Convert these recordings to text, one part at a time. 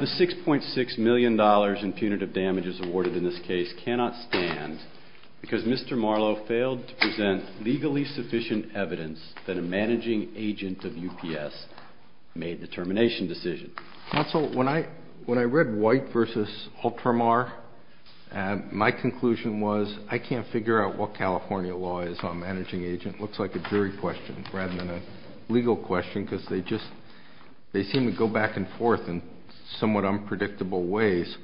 The $6.6 million in punitive damages awarded in this case cannot stand because Mr. Marlo failed to present legally sufficient evidence that a managing agent of UPS made the termination decision. Counsel, when I read White v. Ultramar, my conclusion was I can't figure out what California law is on a managing agent. It looks like a jury question rather than a legal question because they seem to go back and forth in somewhat unpredictable ways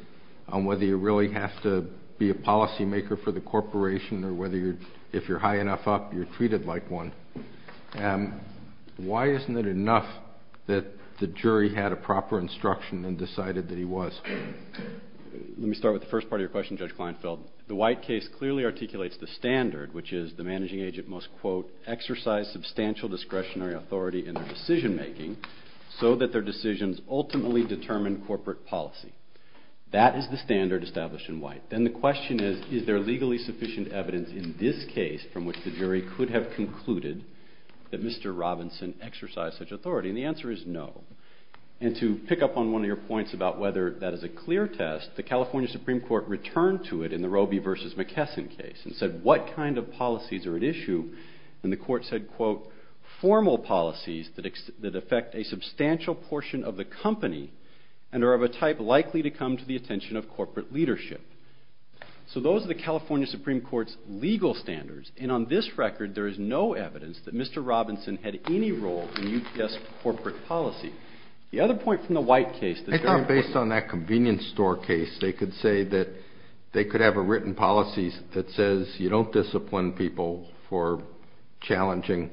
on whether you really have to be a policymaker for the corporation or if you're high enough up, you're treated like one. Why isn't it enough that the jury had a proper instruction and decided that he was? Let me start with the first part of your question, Judge Kleinfeld. The White case clearly articulates the standard, which is the managing agent must, quote, exercise substantial discretionary authority in their decision making so that their decisions ultimately determine corporate policy. Then the question is, is there legally sufficient evidence in this case from which the jury could have concluded that Mr. Robinson exercised such authority? And the answer is no. And to pick up on one of your points about whether that is a clear test, the California Supreme Court returned to it in the Roby v. McKesson case and said, what kind of policies are at issue? And the court said, quote, formal policies that affect a substantial portion of the company and are of a type likely to come to the attention of corporate leadership. So those are the California Supreme Court's legal standards. And on this record, there is no evidence that Mr. Robinson had any role in UPS corporate policy. The other point from the White case. I thought based on that convenience store case, they could say that they could have a written policy that says you don't discipline people for challenging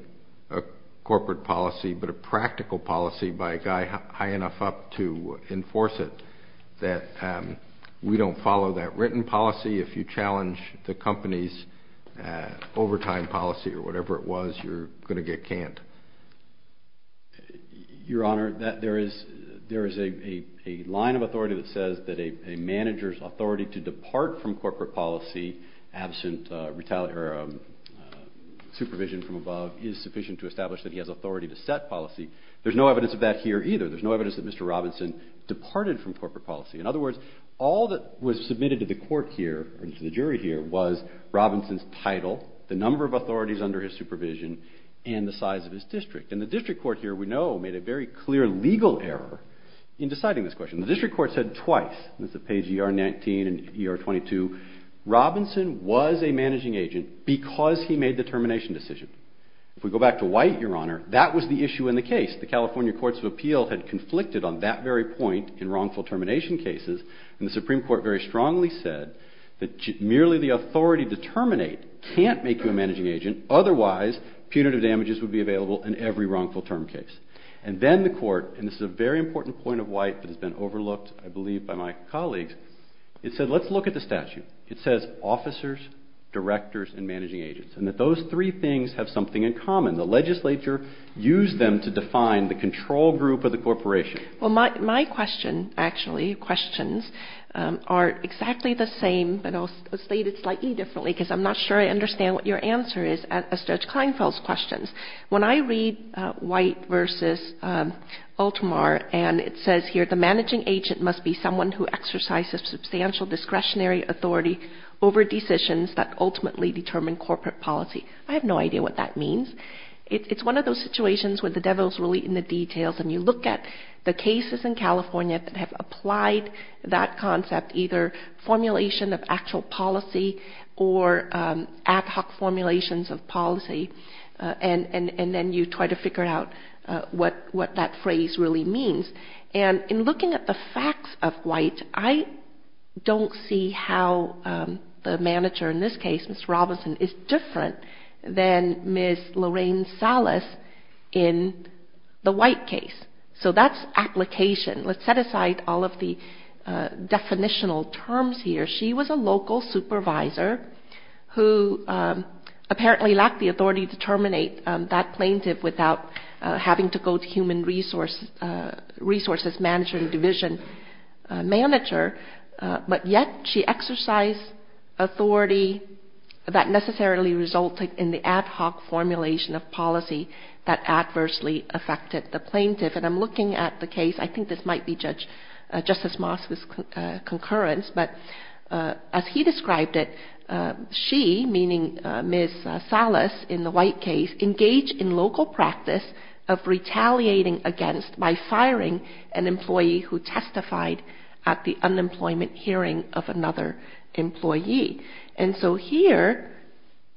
a corporate policy, but a practical policy by a guy high enough up to enforce it, that we don't follow that written policy. If you challenge the company's overtime policy or whatever it was, you're going to get canned. Your Honor, there is a line of authority that says that a manager's authority to depart from corporate policy absent supervision from above is sufficient to establish that he has authority to set policy. There's no evidence of that here either. There's no evidence that Mr. Robinson departed from corporate policy. In other words, all that was submitted to the court here and to the jury here was Robinson's title, the number of authorities under his supervision, and the size of his district. And the district court here, we know, made a very clear legal error in deciding this question. The district court said twice, and it's on page ER 19 and ER 22, Robinson was a managing agent because he made the termination decision. If we go back to White, Your Honor, that was the issue in the case. The California Courts of Appeal had conflicted on that very point in wrongful termination cases, and the Supreme Court very strongly said that merely the authority to terminate can't make you a managing agent. Otherwise, punitive damages would be available in every wrongful term case. And then the court, and this is a very important point of White that has been overlooked, I believe, by my colleagues, it said let's look at the statute. It says officers, directors, and managing agents, and that those three things have something in common. The legislature used them to define the control group of the corporation. Well, my question, actually, questions, are exactly the same, but I'll state it slightly differently because I'm not sure I understand what your answer is as Judge Kleinfeld's questions. When I read White v. Ultimar, and it says here the managing agent must be someone who exercises substantial discretionary authority over decisions that ultimately determine corporate policy. I have no idea what that means. It's one of those situations where the devil's really in the details, and you look at the cases in California that have applied that concept, either formulation of actual policy or ad hoc formulations of policy, and then you try to figure out what that phrase really means. And in looking at the facts of White, I don't see how the manager in this case, Ms. Robinson, is different than Ms. Lorraine Salas in the White case. So that's application. Let's set aside all of the definitional terms here. She was a local supervisor who apparently lacked the authority to terminate that plaintiff without having to go to human resources manager and division manager, but yet she exercised authority that necessarily resulted in the ad hoc formulation of policy that adversely affected the plaintiff. And I'm looking at the case, I think this might be Judge Justice Moss's concurrence, but as he described it, she, meaning Ms. Salas in the White case, engaged in local practice of retaliating against by firing an employee who testified at the unemployment hearing of another employee. And so here,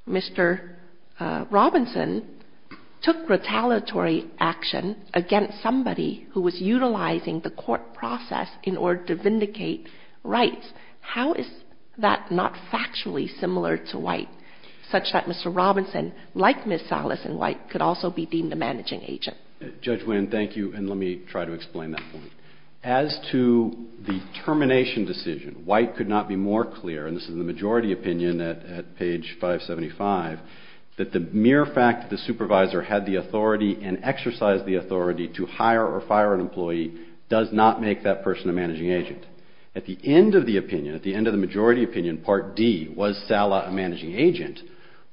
Mr. Robinson took retaliatory action against somebody who was utilizing the court process in order to vindicate rights. How is that not factually similar to White, such that Mr. Robinson, like Ms. Salas in White, could also be deemed a managing agent? Judge Winn, thank you, and let me try to explain that point. As to the termination decision, White could not be more clear, and this is the majority opinion at page 575, that the mere fact that the supervisor had the authority and exercised the authority to hire or fire an employee does not make that person a managing agent. At the end of the opinion, at the end of the majority opinion, part D, was Salas a managing agent,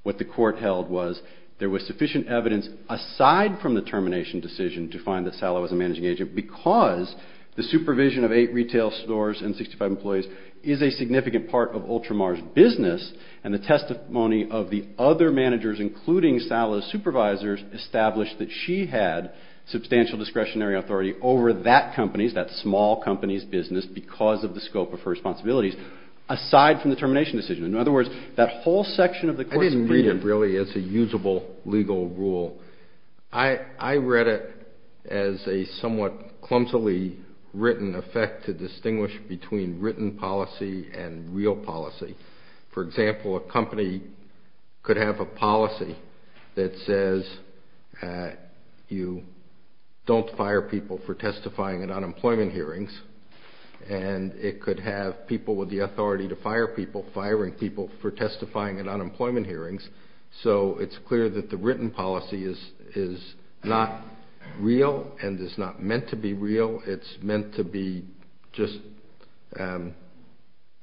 what the court held was there was sufficient evidence aside from the termination decision to find that Salas was a managing agent because the supervision of eight retail stores and 65 employees is a significant part of Ultramar's business, and the testimony of the other managers, including Salas' supervisors, established that she had substantial discretionary authority over that company's, that small company's, business because of the termination decision. I didn't read it really as a usable legal rule. I read it as a somewhat clumsily written effect to distinguish between written policy and real policy. For example, a company could have a policy that says you don't fire people for testifying at unemployment hearings, and it could have people with the authority to fire people firing people for testifying at unemployment hearings, so it's clear that the written policy is not real and is not meant to be real. It's meant to be just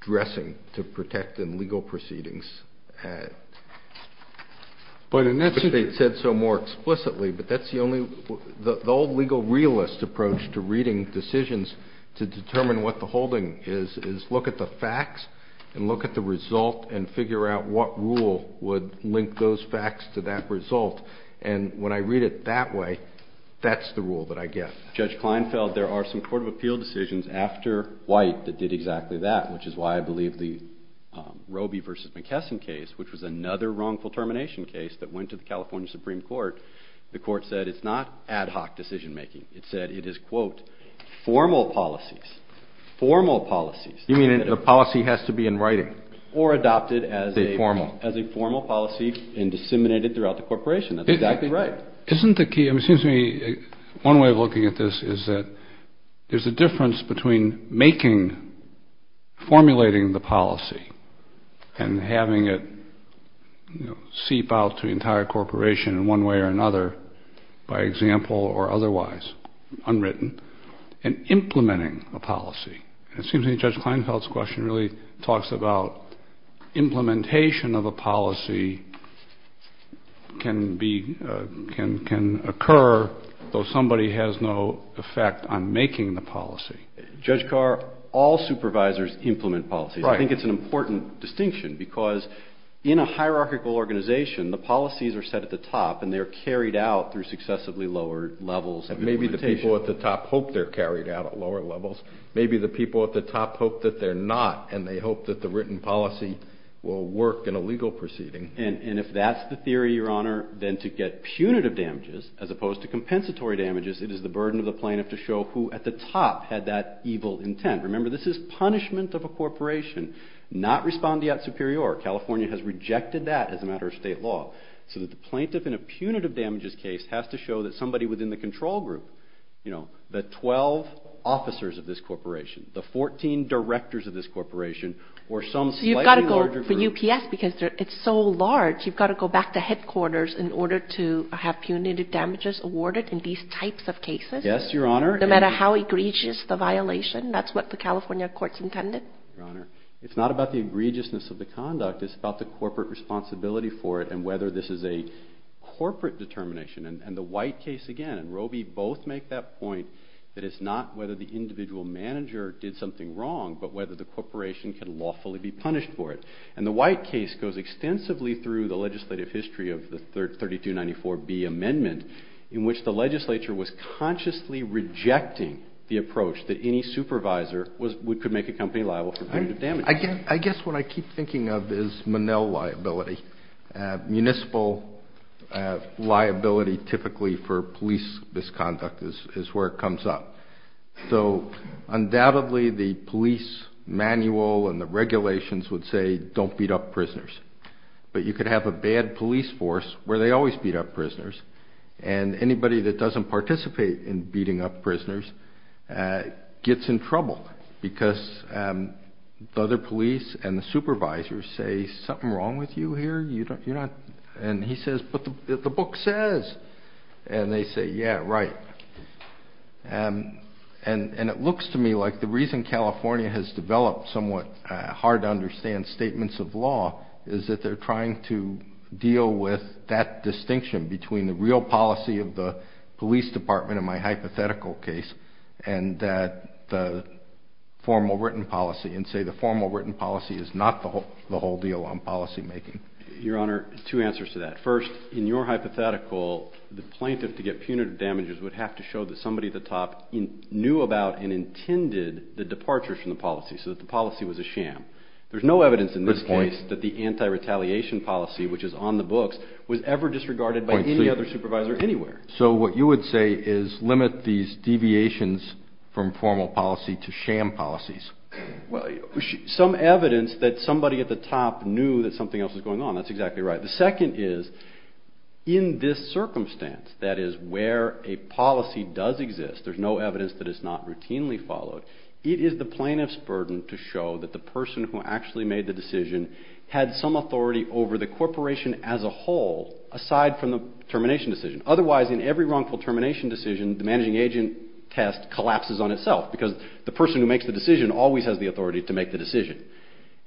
dressing to protect in legal proceedings. The old legal realist approach to reading decisions to determine what the holding is, is look at the facts and look at the result and figure out what rule would link those facts to that result, and when I read it that way, that's the rule that I get. Judge Kleinfeld, there are some court of appeal decisions after White that did exactly that, which is why I believe the Roby v. McKesson case, which was another wrongful termination case that went to the California Supreme Court, the court said it's not ad hoc decision making. It said it is, quote, formal policies, formal policies. You mean a policy has to be in writing? Or adopted as a formal policy and disseminated throughout the corporation. That's exactly right. Isn't the key, excuse me, one way of looking at this is that there's a difference between making, formulating the policy and having it seep out to the entire corporation in one way or another by example or otherwise, unwritten, and implementing a policy. It seems to me Judge Kleinfeld's question really talks about implementation of a policy can be, can occur though somebody has no effect on making the policy. Judge Carr, all supervisors implement policies. Right. I think it's an important distinction because in a hierarchical organization, the policies are set at the top and they are carried out through successively lower levels of implementation. Maybe the people at the top hope they're carried out at lower levels. Maybe the people at the top hope that they're not and they hope that the written policy will work in a legal proceeding. And if that's the theory, Your Honor, then to get punitive damages as opposed to compensatory damages, it is the burden of the plaintiff to show who at the top had that evil intent. Remember, this is punishment of a corporation, not respondeat superior. California has rejected that as a matter of state law. So that the plaintiff in a punitive damages case has to show that somebody within the control group, you know, the 12 officers of this corporation, the 14 directors of this corporation, or some slightly larger group. So you've got to go for UPS because it's so large, you've got to go back to headquarters in order to have punitive damages awarded in these types of cases. Yes, Your Honor. No matter how egregious the violation, that's what the California courts intended? Your Honor, it's not about the egregiousness of the conduct. It's about the corporate responsibility for it and whether this is a corporate determination. And the White case, again, and Roby both make that point that it's not whether the individual manager did something wrong, but whether the corporation can lawfully be punished for it. And the White case goes extensively through the legislative history of the 3294B amendment, in which the legislature was consciously rejecting the approach that any supervisor could make a company liable for punitive damages. I guess what I keep thinking of is Monell liability. Municipal liability typically for police misconduct is where it comes up. So undoubtedly the police manual and the regulations would say, don't beat up prisoners. But you could have a bad police force where they always beat up prisoners, and anybody that doesn't participate in beating up prisoners gets in trouble because the other police and the supervisors say, something wrong with you here? And he says, but the book says. And they say, yeah, right. And it looks to me like the reason California has developed somewhat hard to understand statements of law is that they're trying to deal with that distinction between the real policy of the police department in my hypothetical case and the formal written policy and say the formal written policy is not the whole deal on policymaking. Your Honor, two answers to that. First, in your hypothetical, the plaintiff to get punitive damages would have to show that somebody at the top knew about and intended the departure from the policy so that the policy was a sham. There's no evidence in this case that the anti-retaliation policy, which is on the books, was ever disregarded by any other supervisor anywhere. So what you would say is limit these deviations from formal policy to sham policies. Well, some evidence that somebody at the top knew that something else was going on. That's exactly right. The second is, in this circumstance, that is where a policy does exist, there's no evidence that it's not routinely followed, it is the plaintiff's burden to show that the person who actually made the decision had some authority over the corporation as a whole aside from the termination decision. Otherwise, in every wrongful termination decision, the managing agent test collapses on itself because the person who makes the decision always has the authority to make the decision.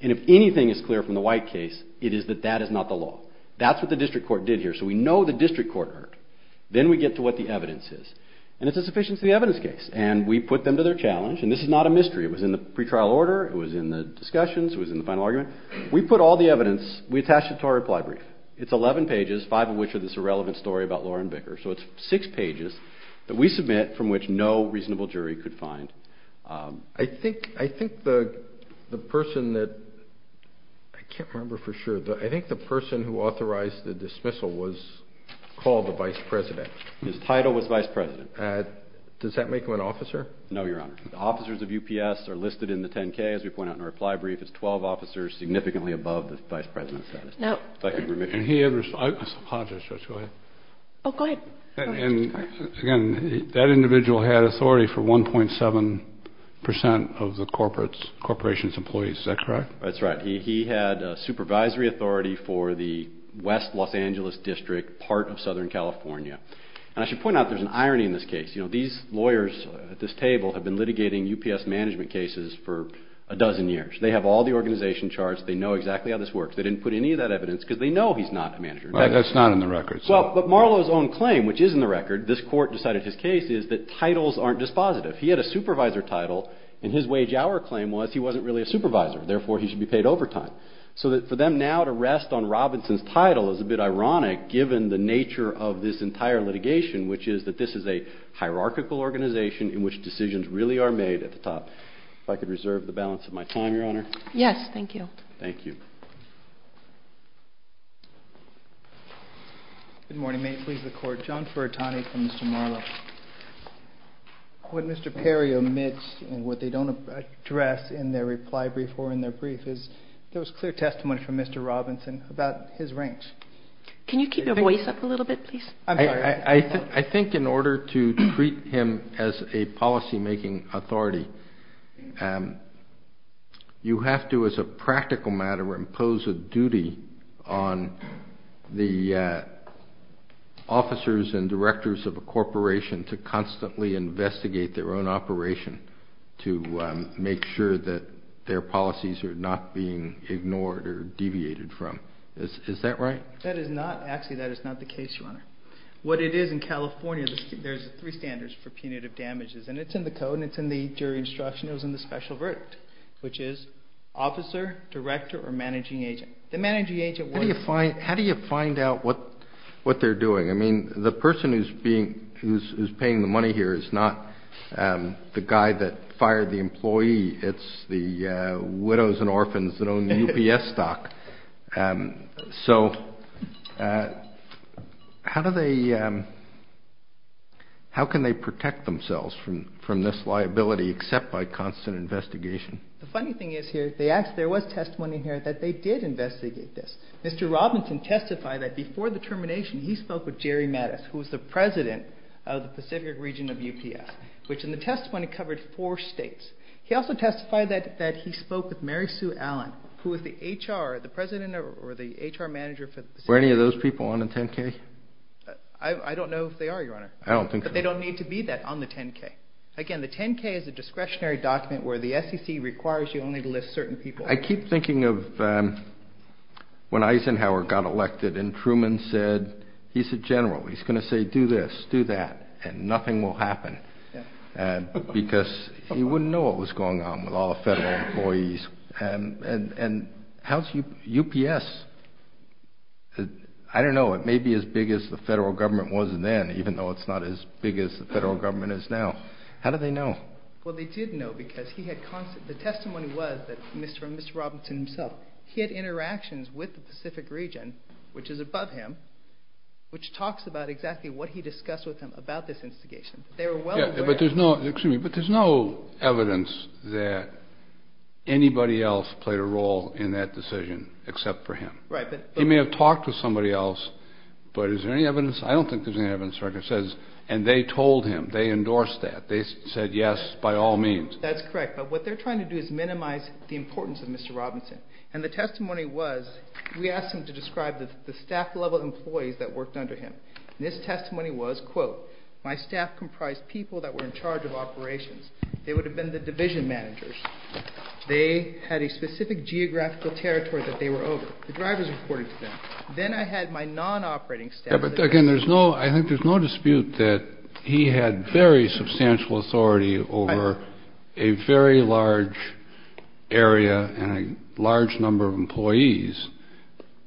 And if anything is clear from the White case, it is that that is not the law. That's what the district court did here. So we know the district court heard. Then we get to what the evidence is. And it's a sufficiency evidence case. And we put them to their challenge. And this is not a mystery. It was in the pretrial order. It was in the discussions. It was in the final argument. We put all the evidence, we attached it to our reply brief. It's 11 pages, five of which are this irrelevant story about Lauren Vicker. So it's six pages that we submit from which no reasonable jury could find. I think the person that I can't remember for sure, I think the person who authorized the dismissal was called the vice president. His title was vice president. Does that make him an officer? No, Your Honor. The officers of UPS are listed in the 10-K, as we point out in our reply brief. It's 12 officers, significantly above the vice president's status. No. I apologize, Judge, go ahead. Oh, go ahead. And, again, that individual had authority for 1.7 percent of the corporation's employees. Is that correct? That's right. He had supervisory authority for the West Los Angeles District, part of Southern California. And I should point out there's an irony in this case. You know, these lawyers at this table have been litigating UPS management cases for a dozen years. They have all the organization charts. They know exactly how this works. They didn't put any of that evidence because they know he's not a manager. That's not in the record. Well, but Marlow's own claim, which is in the record, this court decided his case, is that titles aren't dispositive. He had a supervisor title, and his wage-hour claim was he wasn't really a supervisor. Therefore, he should be paid overtime. So for them now to rest on Robinson's title is a bit ironic, given the nature of this entire litigation, which is that this is a hierarchical organization in which decisions really are made at the top. If I could reserve the balance of my time, Your Honor. Yes, thank you. Thank you. Good morning. May it please the Court. John Furtani from Mr. Marlow. What Mr. Perry omits and what they don't address in their reply brief or in their brief is there was clear testimony from Mr. Robinson about his ranks. Can you keep your voice up a little bit, please? I'm sorry. I think in order to treat him as a policymaking authority, you have to, as a practical matter, impose a duty on the officers and directors of a corporation to constantly investigate their own operation to make sure that their policies are not being ignored or deviated from. Is that right? Actually, that is not the case, Your Honor. What it is in California, there's three standards for punitive damages, and it's in the code and it's in the jury instruction. It was in the special verdict, which is officer, director, or managing agent. How do you find out what they're doing? I mean, the person who's paying the money here is not the guy that fired the employee. It's the widows and orphans that own the UPS stock. So how can they protect themselves from this liability except by constant investigation? The funny thing is here, there was testimony here that they did investigate this. Mr. Robinson testified that before the termination, he spoke with Jerry Mattis, who was the president of the Pacific region of UPS, which in the testimony covered four states. He also testified that he spoke with Mary Sue Allen, who was the HR, the president or the HR manager for the Pacific region. Were any of those people on the 10-K? I don't know if they are, Your Honor. I don't think so. But they don't need to be that on the 10-K. Again, the 10-K is a discretionary document where the SEC requires you only to list certain people. I keep thinking of when Eisenhower got elected and Truman said he's a general. He's going to say do this, do that, and nothing will happen because he wouldn't know what was going on with all the federal employees. And how's UPS? I don't know. It may be as big as the federal government was then, even though it's not as big as the federal government is now. How do they know? Well, they did know because the testimony was that Mr. and Ms. Robinson himself, he had interactions with the Pacific region, which is above him, which talks about exactly what he discussed with them about this investigation. They were well aware. But there's no evidence that anybody else played a role in that decision except for him. Right. He may have talked to somebody else, but is there any evidence? I don't think there's any evidence. And they told him. They endorsed that. They said yes by all means. That's correct. But what they're trying to do is minimize the importance of Mr. Robinson. And the testimony was we asked him to describe the staff-level employees that worked under him. And his testimony was, quote, my staff comprised people that were in charge of operations. They would have been the division managers. They had a specific geographical territory that they were over. The drivers reported to them. Then I had my non-operating staff. Yeah, but, again, I think there's no dispute that he had very substantial authority over a very large area and a large number of employees.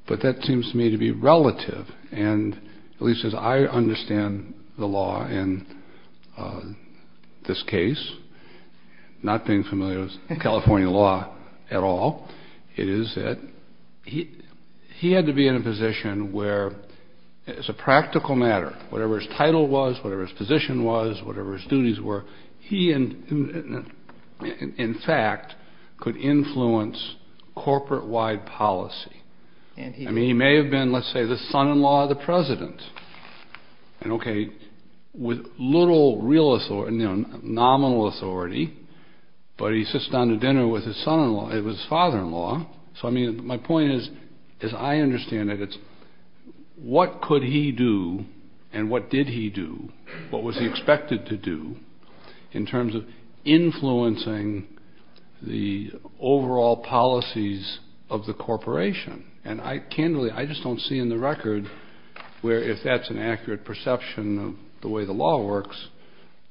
But that seems to me to be relative. And at least as I understand the law in this case, not being familiar with California law at all, it is that he had to be in a position where, as a practical matter, whatever his title was, whatever his position was, whatever his duties were, he, in fact, could influence corporate-wide policy. I mean, he may have been, let's say, the son-in-law of the president. And, okay, with little real authority, nominal authority, but he sits down to dinner with his son-in-law, his father-in-law. So, I mean, my point is, as I understand it, it's what could he do and what did he do? What was he expected to do in terms of influencing the overall policies of the corporation? And, candidly, I just don't see in the record where, if that's an accurate perception of the way the law works,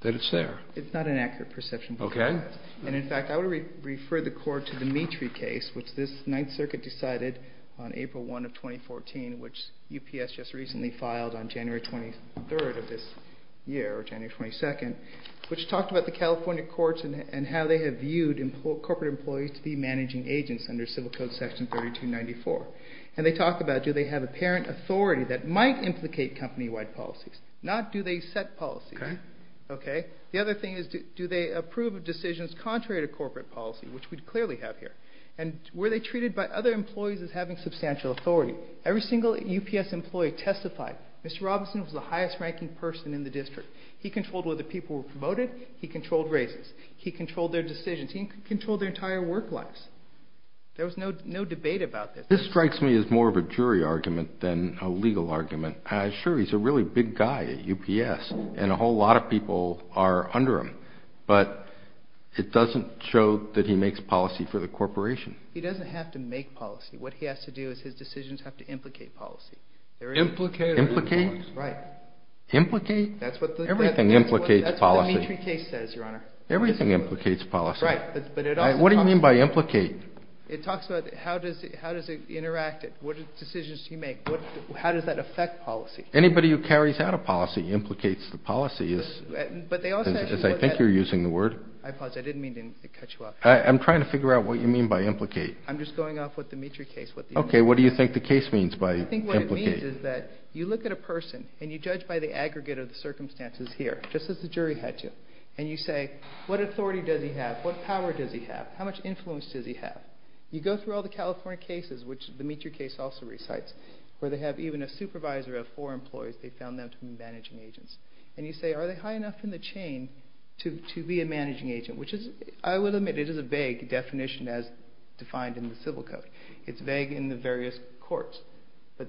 that it's there. It's not an accurate perception. Okay. And, in fact, I would refer the court to the Meetry case, which this Ninth Circuit decided on April 1 of 2014, which UPS just recently filed on January 23rd of this year, or January 22nd, which talked about the California courts and how they have viewed corporate employees to be managing agents under Civil Code Section 3294. And they talk about do they have apparent authority that might implicate company-wide policies, not do they set policies. Okay. The other thing is do they approve of decisions contrary to corporate policy, which we clearly have here. And were they treated by other employees as having substantial authority? Every single UPS employee testified. Mr. Robinson was the highest-ranking person in the district. He controlled whether people were promoted. He controlled races. He controlled their decisions. He controlled their entire work lives. There was no debate about this. This strikes me as more of a jury argument than a legal argument. I assure you, he's a really big guy at UPS, and a whole lot of people are under him. But it doesn't show that he makes policy for the corporation. He doesn't have to make policy. What he has to do is his decisions have to implicate policy. Implicate? Implicate? Right. Implicate? Everything implicates policy. That's what the Meetry case says, Your Honor. Everything implicates policy. Right. What do you mean by implicate? It talks about how does it interact? What decisions do you make? How does that affect policy? Anybody who carries out a policy implicates the policy. I think you're using the word. I didn't mean to cut you off. I'm trying to figure out what you mean by implicate. I'm just going off what the Meetry case. Okay. What do you think the case means by implicate? I think what it means is that you look at a person, and you judge by the aggregate of the circumstances here, just as the jury had to, and you say, What authority does he have? What power does he have? How much influence does he have? You go through all the California cases, which the Meetry case also recites, where they have even a supervisor of four employees. They found them to be managing agents. And you say, Are they high enough in the chain to be a managing agent? Which is, I will admit, it is a vague definition as defined in the civil code. It's vague in the various courts. But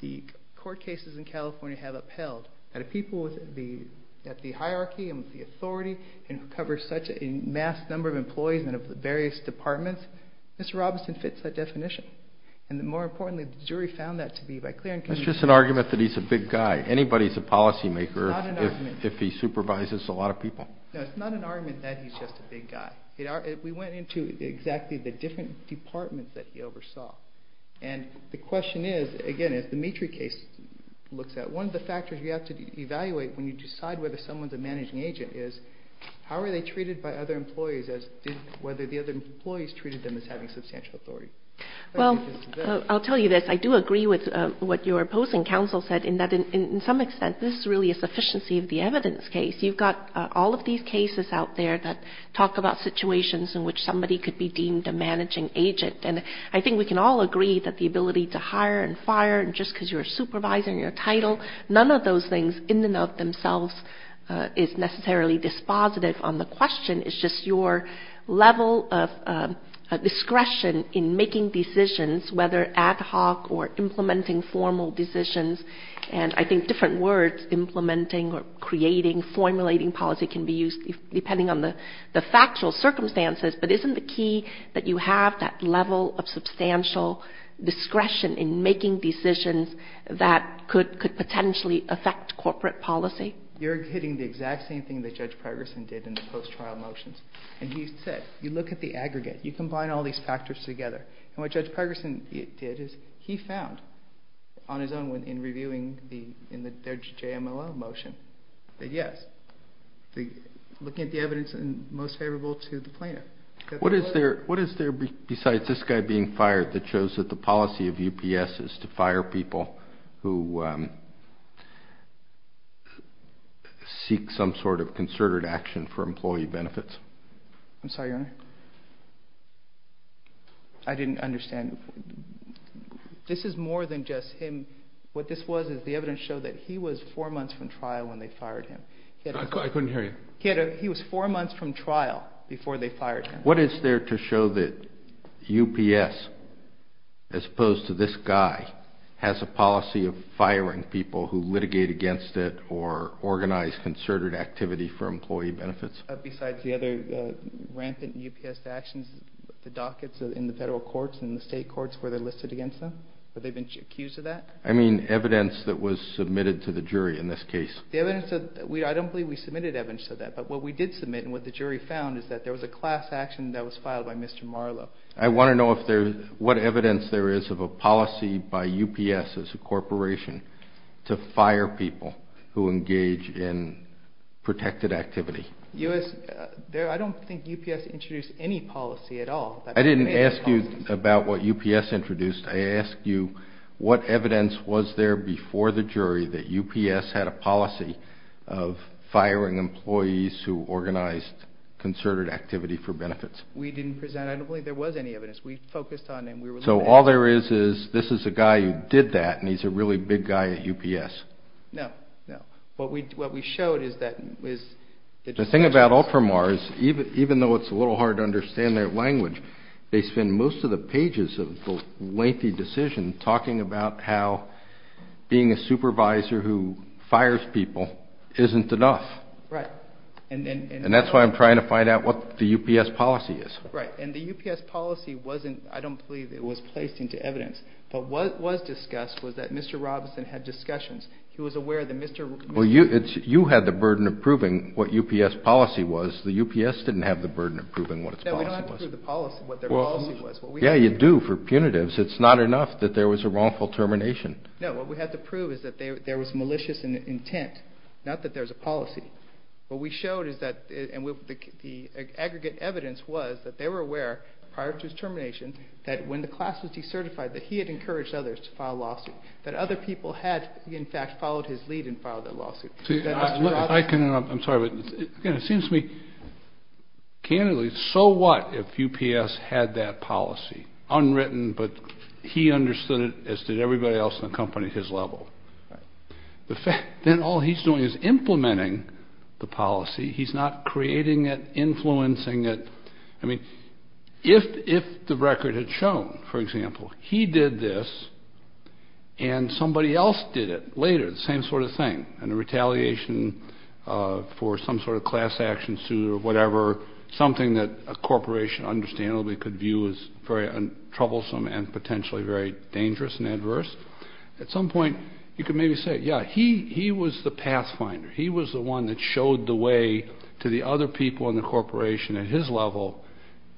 the court cases in California have upheld that if people at the hierarchy and with the authority can cover such a mass number of employees and of the various departments, Mr. Robinson fits that definition. And more importantly, the jury found that to be by clear and concise. That's just an argument that he's a big guy. Anybody's a policymaker if he supervises a lot of people. No, it's not an argument that he's just a big guy. We went into exactly the different departments that he oversaw. And the question is, again, as the Meetry case looks at, one of the factors you have to evaluate when you decide whether someone's a managing agent is how are they treated by other employees as to whether the other employees treated them as having substantial authority. Well, I'll tell you this. I do agree with what your opposing counsel said in that in some extent this is really a sufficiency of the evidence case. You've got all of these cases out there that talk about situations in which somebody could be deemed a managing agent. And I think we can all agree that the ability to hire and fire just because you're a supervisor and you're a title, none of those things in and of themselves is necessarily dispositive on the question. It's just your level of discretion in making decisions, whether ad hoc or implementing formal decisions. And I think different words, implementing or creating, formulating policy can be used depending on the factual circumstances. But isn't the key that you have that level of substantial discretion in making decisions that could potentially affect corporate policy? You're hitting the exact same thing that Judge Pregerson did in the post-trial motions. And he said, you look at the aggregate. You combine all these factors together. And what Judge Pregerson did is he found on his own in reviewing the judge's JMLO motion that, yes, looking at the evidence and most favorable to the plaintiff. What is there besides this guy being fired that shows that the policy of UPS is to fire people who seek some sort of concerted action for employee benefits? I'm sorry, Your Honor. I didn't understand. This is more than just him. What this was is the evidence showed that he was four months from trial when they fired him. I couldn't hear you. He was four months from trial before they fired him. What is there to show that UPS, as opposed to this guy, has a policy of firing people who litigate against it or organize concerted activity for employee benefits? Besides the other rampant UPS actions, the dockets in the federal courts and the state courts where they're listed against them, where they've been accused of that? I mean evidence that was submitted to the jury in this case. I don't believe we submitted evidence to that, but what we did submit and what the jury found is that there was a class action that was filed by Mr. Marlow. I want to know what evidence there is of a policy by UPS as a corporation to fire people who engage in protected activity. I don't think UPS introduced any policy at all. I didn't ask you about what UPS introduced. I asked you what evidence was there before the jury that UPS had a policy of firing employees who organized concerted activity for benefits. We didn't present it. I don't believe there was any evidence. We focused on it and we were looking at it. So all there is is this is a guy who did that and he's a really big guy at UPS. No, no. What we showed is that it was— The thing about Ultramars, even though it's a little hard to understand their language, they spend most of the pages of the lengthy decision talking about how being a supervisor who fires people isn't enough. Right. And that's why I'm trying to find out what the UPS policy is. Right. And the UPS policy wasn't—I don't believe it was placed into evidence. But what was discussed was that Mr. Robinson had discussions. He was aware that Mr.— Well, you had the burden of proving what UPS policy was. The UPS didn't have the burden of proving what its policy was. No, we don't have to prove what their policy was. Yeah, you do for punitives. It's not enough that there was a wrongful termination. No, what we had to prove is that there was malicious intent, not that there's a policy. What we showed is that—and the aggregate evidence was that they were aware prior to his termination that when the class was decertified, that he had encouraged others to file a lawsuit, that other people had, in fact, followed his lead and filed that lawsuit. I can—I'm sorry, but it seems to me, candidly, so what if UPS had that policy, unwritten, but he understood it as did everybody else in the company at his level? Right. Then all he's doing is implementing the policy. He's not creating it, influencing it. I mean, if the record had shown, for example, he did this and somebody else did it later, the same sort of thing, and the retaliation for some sort of class action suit or whatever, something that a corporation understandably could view as very troublesome and potentially very dangerous and adverse, at some point you could maybe say, yeah, he was the pathfinder. He was the one that showed the way to the other people in the corporation at his level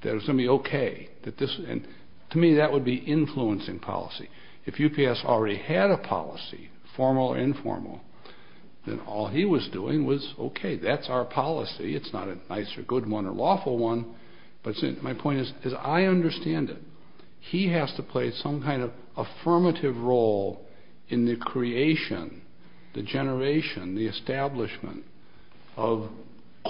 that it was going to be okay. To me, that would be influencing policy. If UPS already had a policy, formal or informal, then all he was doing was, okay, that's our policy. It's not a nice or good one or lawful one, but my point is I understand it. He has to play some kind of affirmative role in the creation, the generation, the establishment of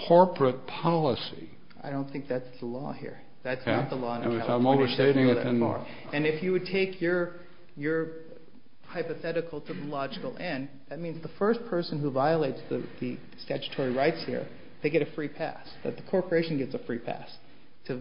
corporate policy. I don't think that's the law here. That's not the law in California. I'm overstating it. And if you would take your hypothetical to the logical end, that means the first person who violates the statutory rights here, they get a free pass, that the corporation gets a free pass to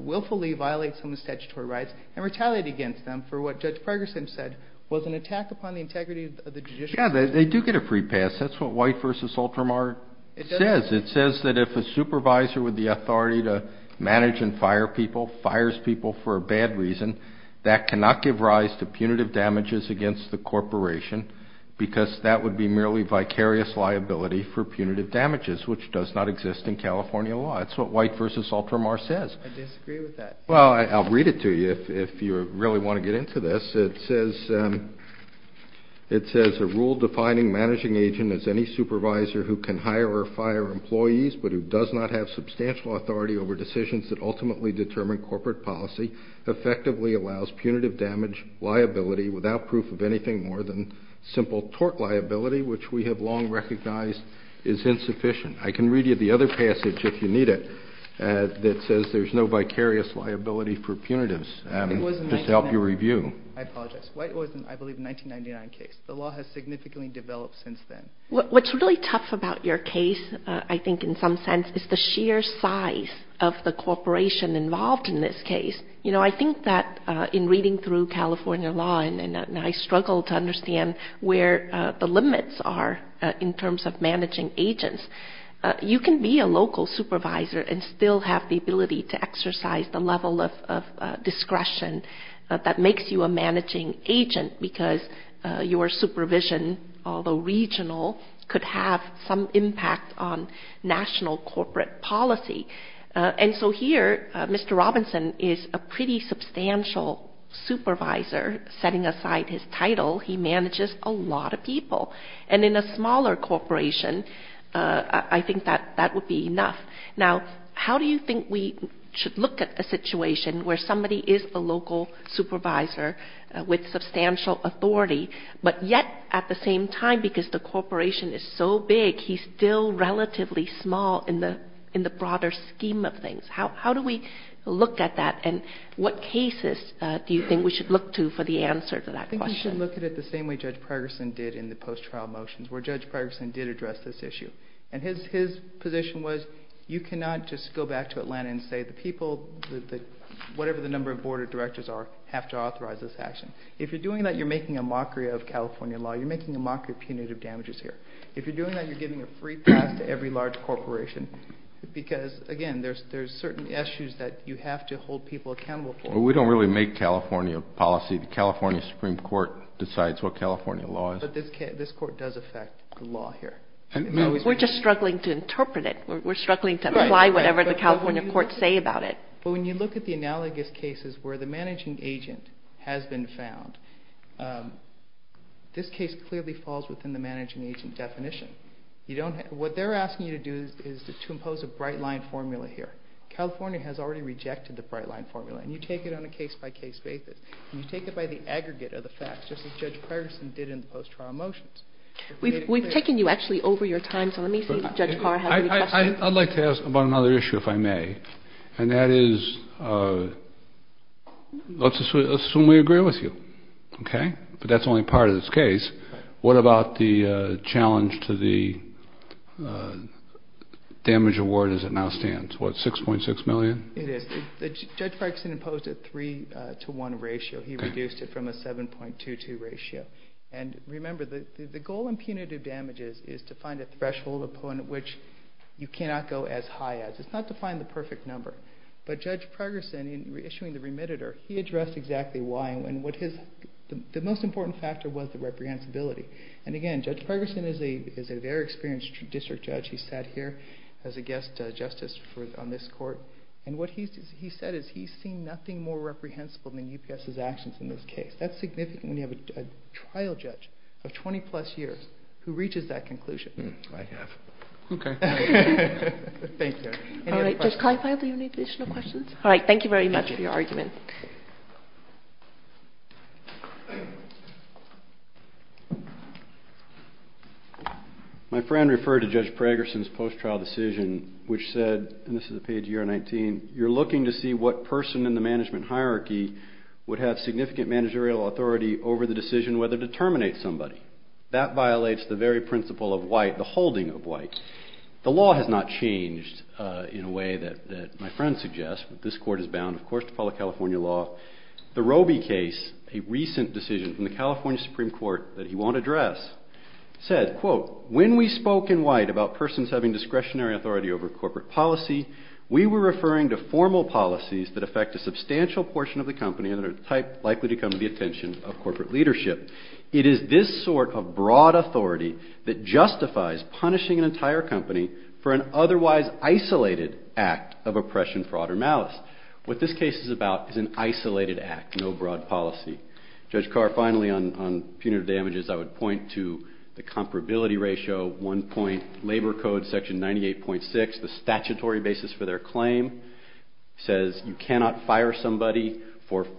willfully violate some of the statutory rights and retaliate against them for what Judge Ferguson said was an attack upon the integrity of the judicial system. Yeah, they do get a free pass. That's what White v. Ultramar says. It says that if a supervisor with the authority to manage and fire people fires people for a bad reason, that cannot give rise to punitive damages against the corporation because that would be merely vicarious liability for punitive damages, which does not exist in California law. That's what White v. Ultramar says. I disagree with that. Well, I'll read it to you if you really want to get into this. It says a rule defining managing agent as any supervisor who can hire or fire employees but who does not have substantial authority over decisions that ultimately determine corporate policy effectively allows punitive damage liability without proof of anything more than simple tort liability, which we have long recognized is insufficient. I can read you the other passage if you need it that says there's no vicarious liability for punitives. Just to help you review. I apologize. White v. Ultramar was, I believe, a 1999 case. The law has significantly developed since then. What's really tough about your case, I think in some sense, is the sheer size of the corporation involved in this case. You know, I think that in reading through California law, and I struggle to understand where the limits are in terms of managing agents, you can be a local supervisor and still have the ability to exercise the level of discretion that makes you a managing agent because your supervision, although regional, could have some impact on national corporate policy. And so here, Mr. Robinson is a pretty substantial supervisor. Setting aside his title, he manages a lot of people. And in a smaller corporation, I think that that would be enough. Now, how do you think we should look at a situation where somebody is a local supervisor with substantial authority, but yet at the same time, because the corporation is so big, he's still relatively small in the broader scheme of things. How do we look at that, and what cases do you think we should look to for the answer to that question? I think we should look at it the same way Judge Pregerson did in the post-trial motions, where Judge Pregerson did address this issue. And his position was you cannot just go back to Atlanta and say the people, whatever the number of board of directors are, have to authorize this action. If you're doing that, you're making a mockery of California law. You're making a mockery of punitive damages here. If you're doing that, you're giving a free pass to every large corporation because, again, there's certain issues that you have to hold people accountable for. We don't really make California policy. The California Supreme Court decides what California law is. But this court does affect the law here. We're just struggling to interpret it. We're struggling to apply whatever the California courts say about it. But when you look at the analogous cases where the managing agent has been found, this case clearly falls within the managing agent definition. What they're asking you to do is to impose a bright-line formula here. California has already rejected the bright-line formula. And you take it on a case-by-case basis. And you take it by the aggregate of the facts, just as Judge Pregerson did in the post-trial motions. We've taken you actually over your time, so let me see if Judge Parr has any questions. I'd like to ask about another issue, if I may. And that is let's assume we agree with you, okay? But that's only part of this case. What about the challenge to the damage award as it now stands? What, $6.6 million? It is. Judge Pregerson imposed a 3-to-1 ratio. He reduced it from a 7.22 ratio. And remember, the goal in punitive damages is to find a threshold upon which you cannot go as high as. It's not to find the perfect number. But Judge Pregerson, in issuing the remittitor, he addressed exactly why. And the most important factor was the reprehensibility. And, again, Judge Pregerson is a very experienced district judge. He sat here as a guest justice on this court. And what he said is he's seen nothing more reprehensible than UPS's actions in this case. That's significant when you have a trial judge of 20-plus years who reaches that conclusion. I have. Okay. Thank you. All right. Judge Kleinfeld, do you have any additional questions? All right. Thank you very much for your argument. My friend referred to Judge Pregerson's post-trial decision, which said, and this is a page of year 19, you're looking to see what person in the management hierarchy would have significant managerial authority over the decision whether to terminate somebody. That violates the very principle of white, the holding of white. The law has not changed in a way that my friend suggests. This court is bound, of course, to follow California law. The Roby case, a recent decision from the California Supreme Court that he won't address, said, quote, when we spoke in white about persons having discretionary authority over corporate policy, we were referring to formal policies that affect a substantial portion of the company and are likely to come to the attention of corporate leadership. It is this sort of broad authority that justifies punishing an entire company for an otherwise isolated act of oppression, fraud, or malice. What this case is about is an isolated act, no broad policy. Judge Carr, finally, on punitive damages, I would point to the comparability ratio, one-point labor code section 98.6, the statutory basis for their claim, says you cannot fire somebody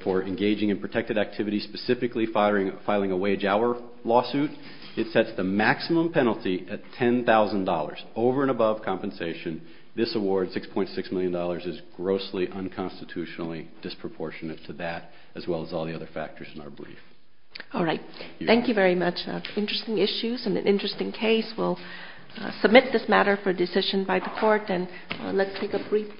for engaging in protected activity, specifically filing a wage-hour lawsuit. It sets the maximum penalty at $10,000, over and above compensation. This award, $6.6 million, is grossly unconstitutionally disproportionate to that, as well as all the other factors in our brief. All right. Thank you very much. Interesting issues and an interesting case. We'll submit this matter for decision by the court, and let's take a brief break.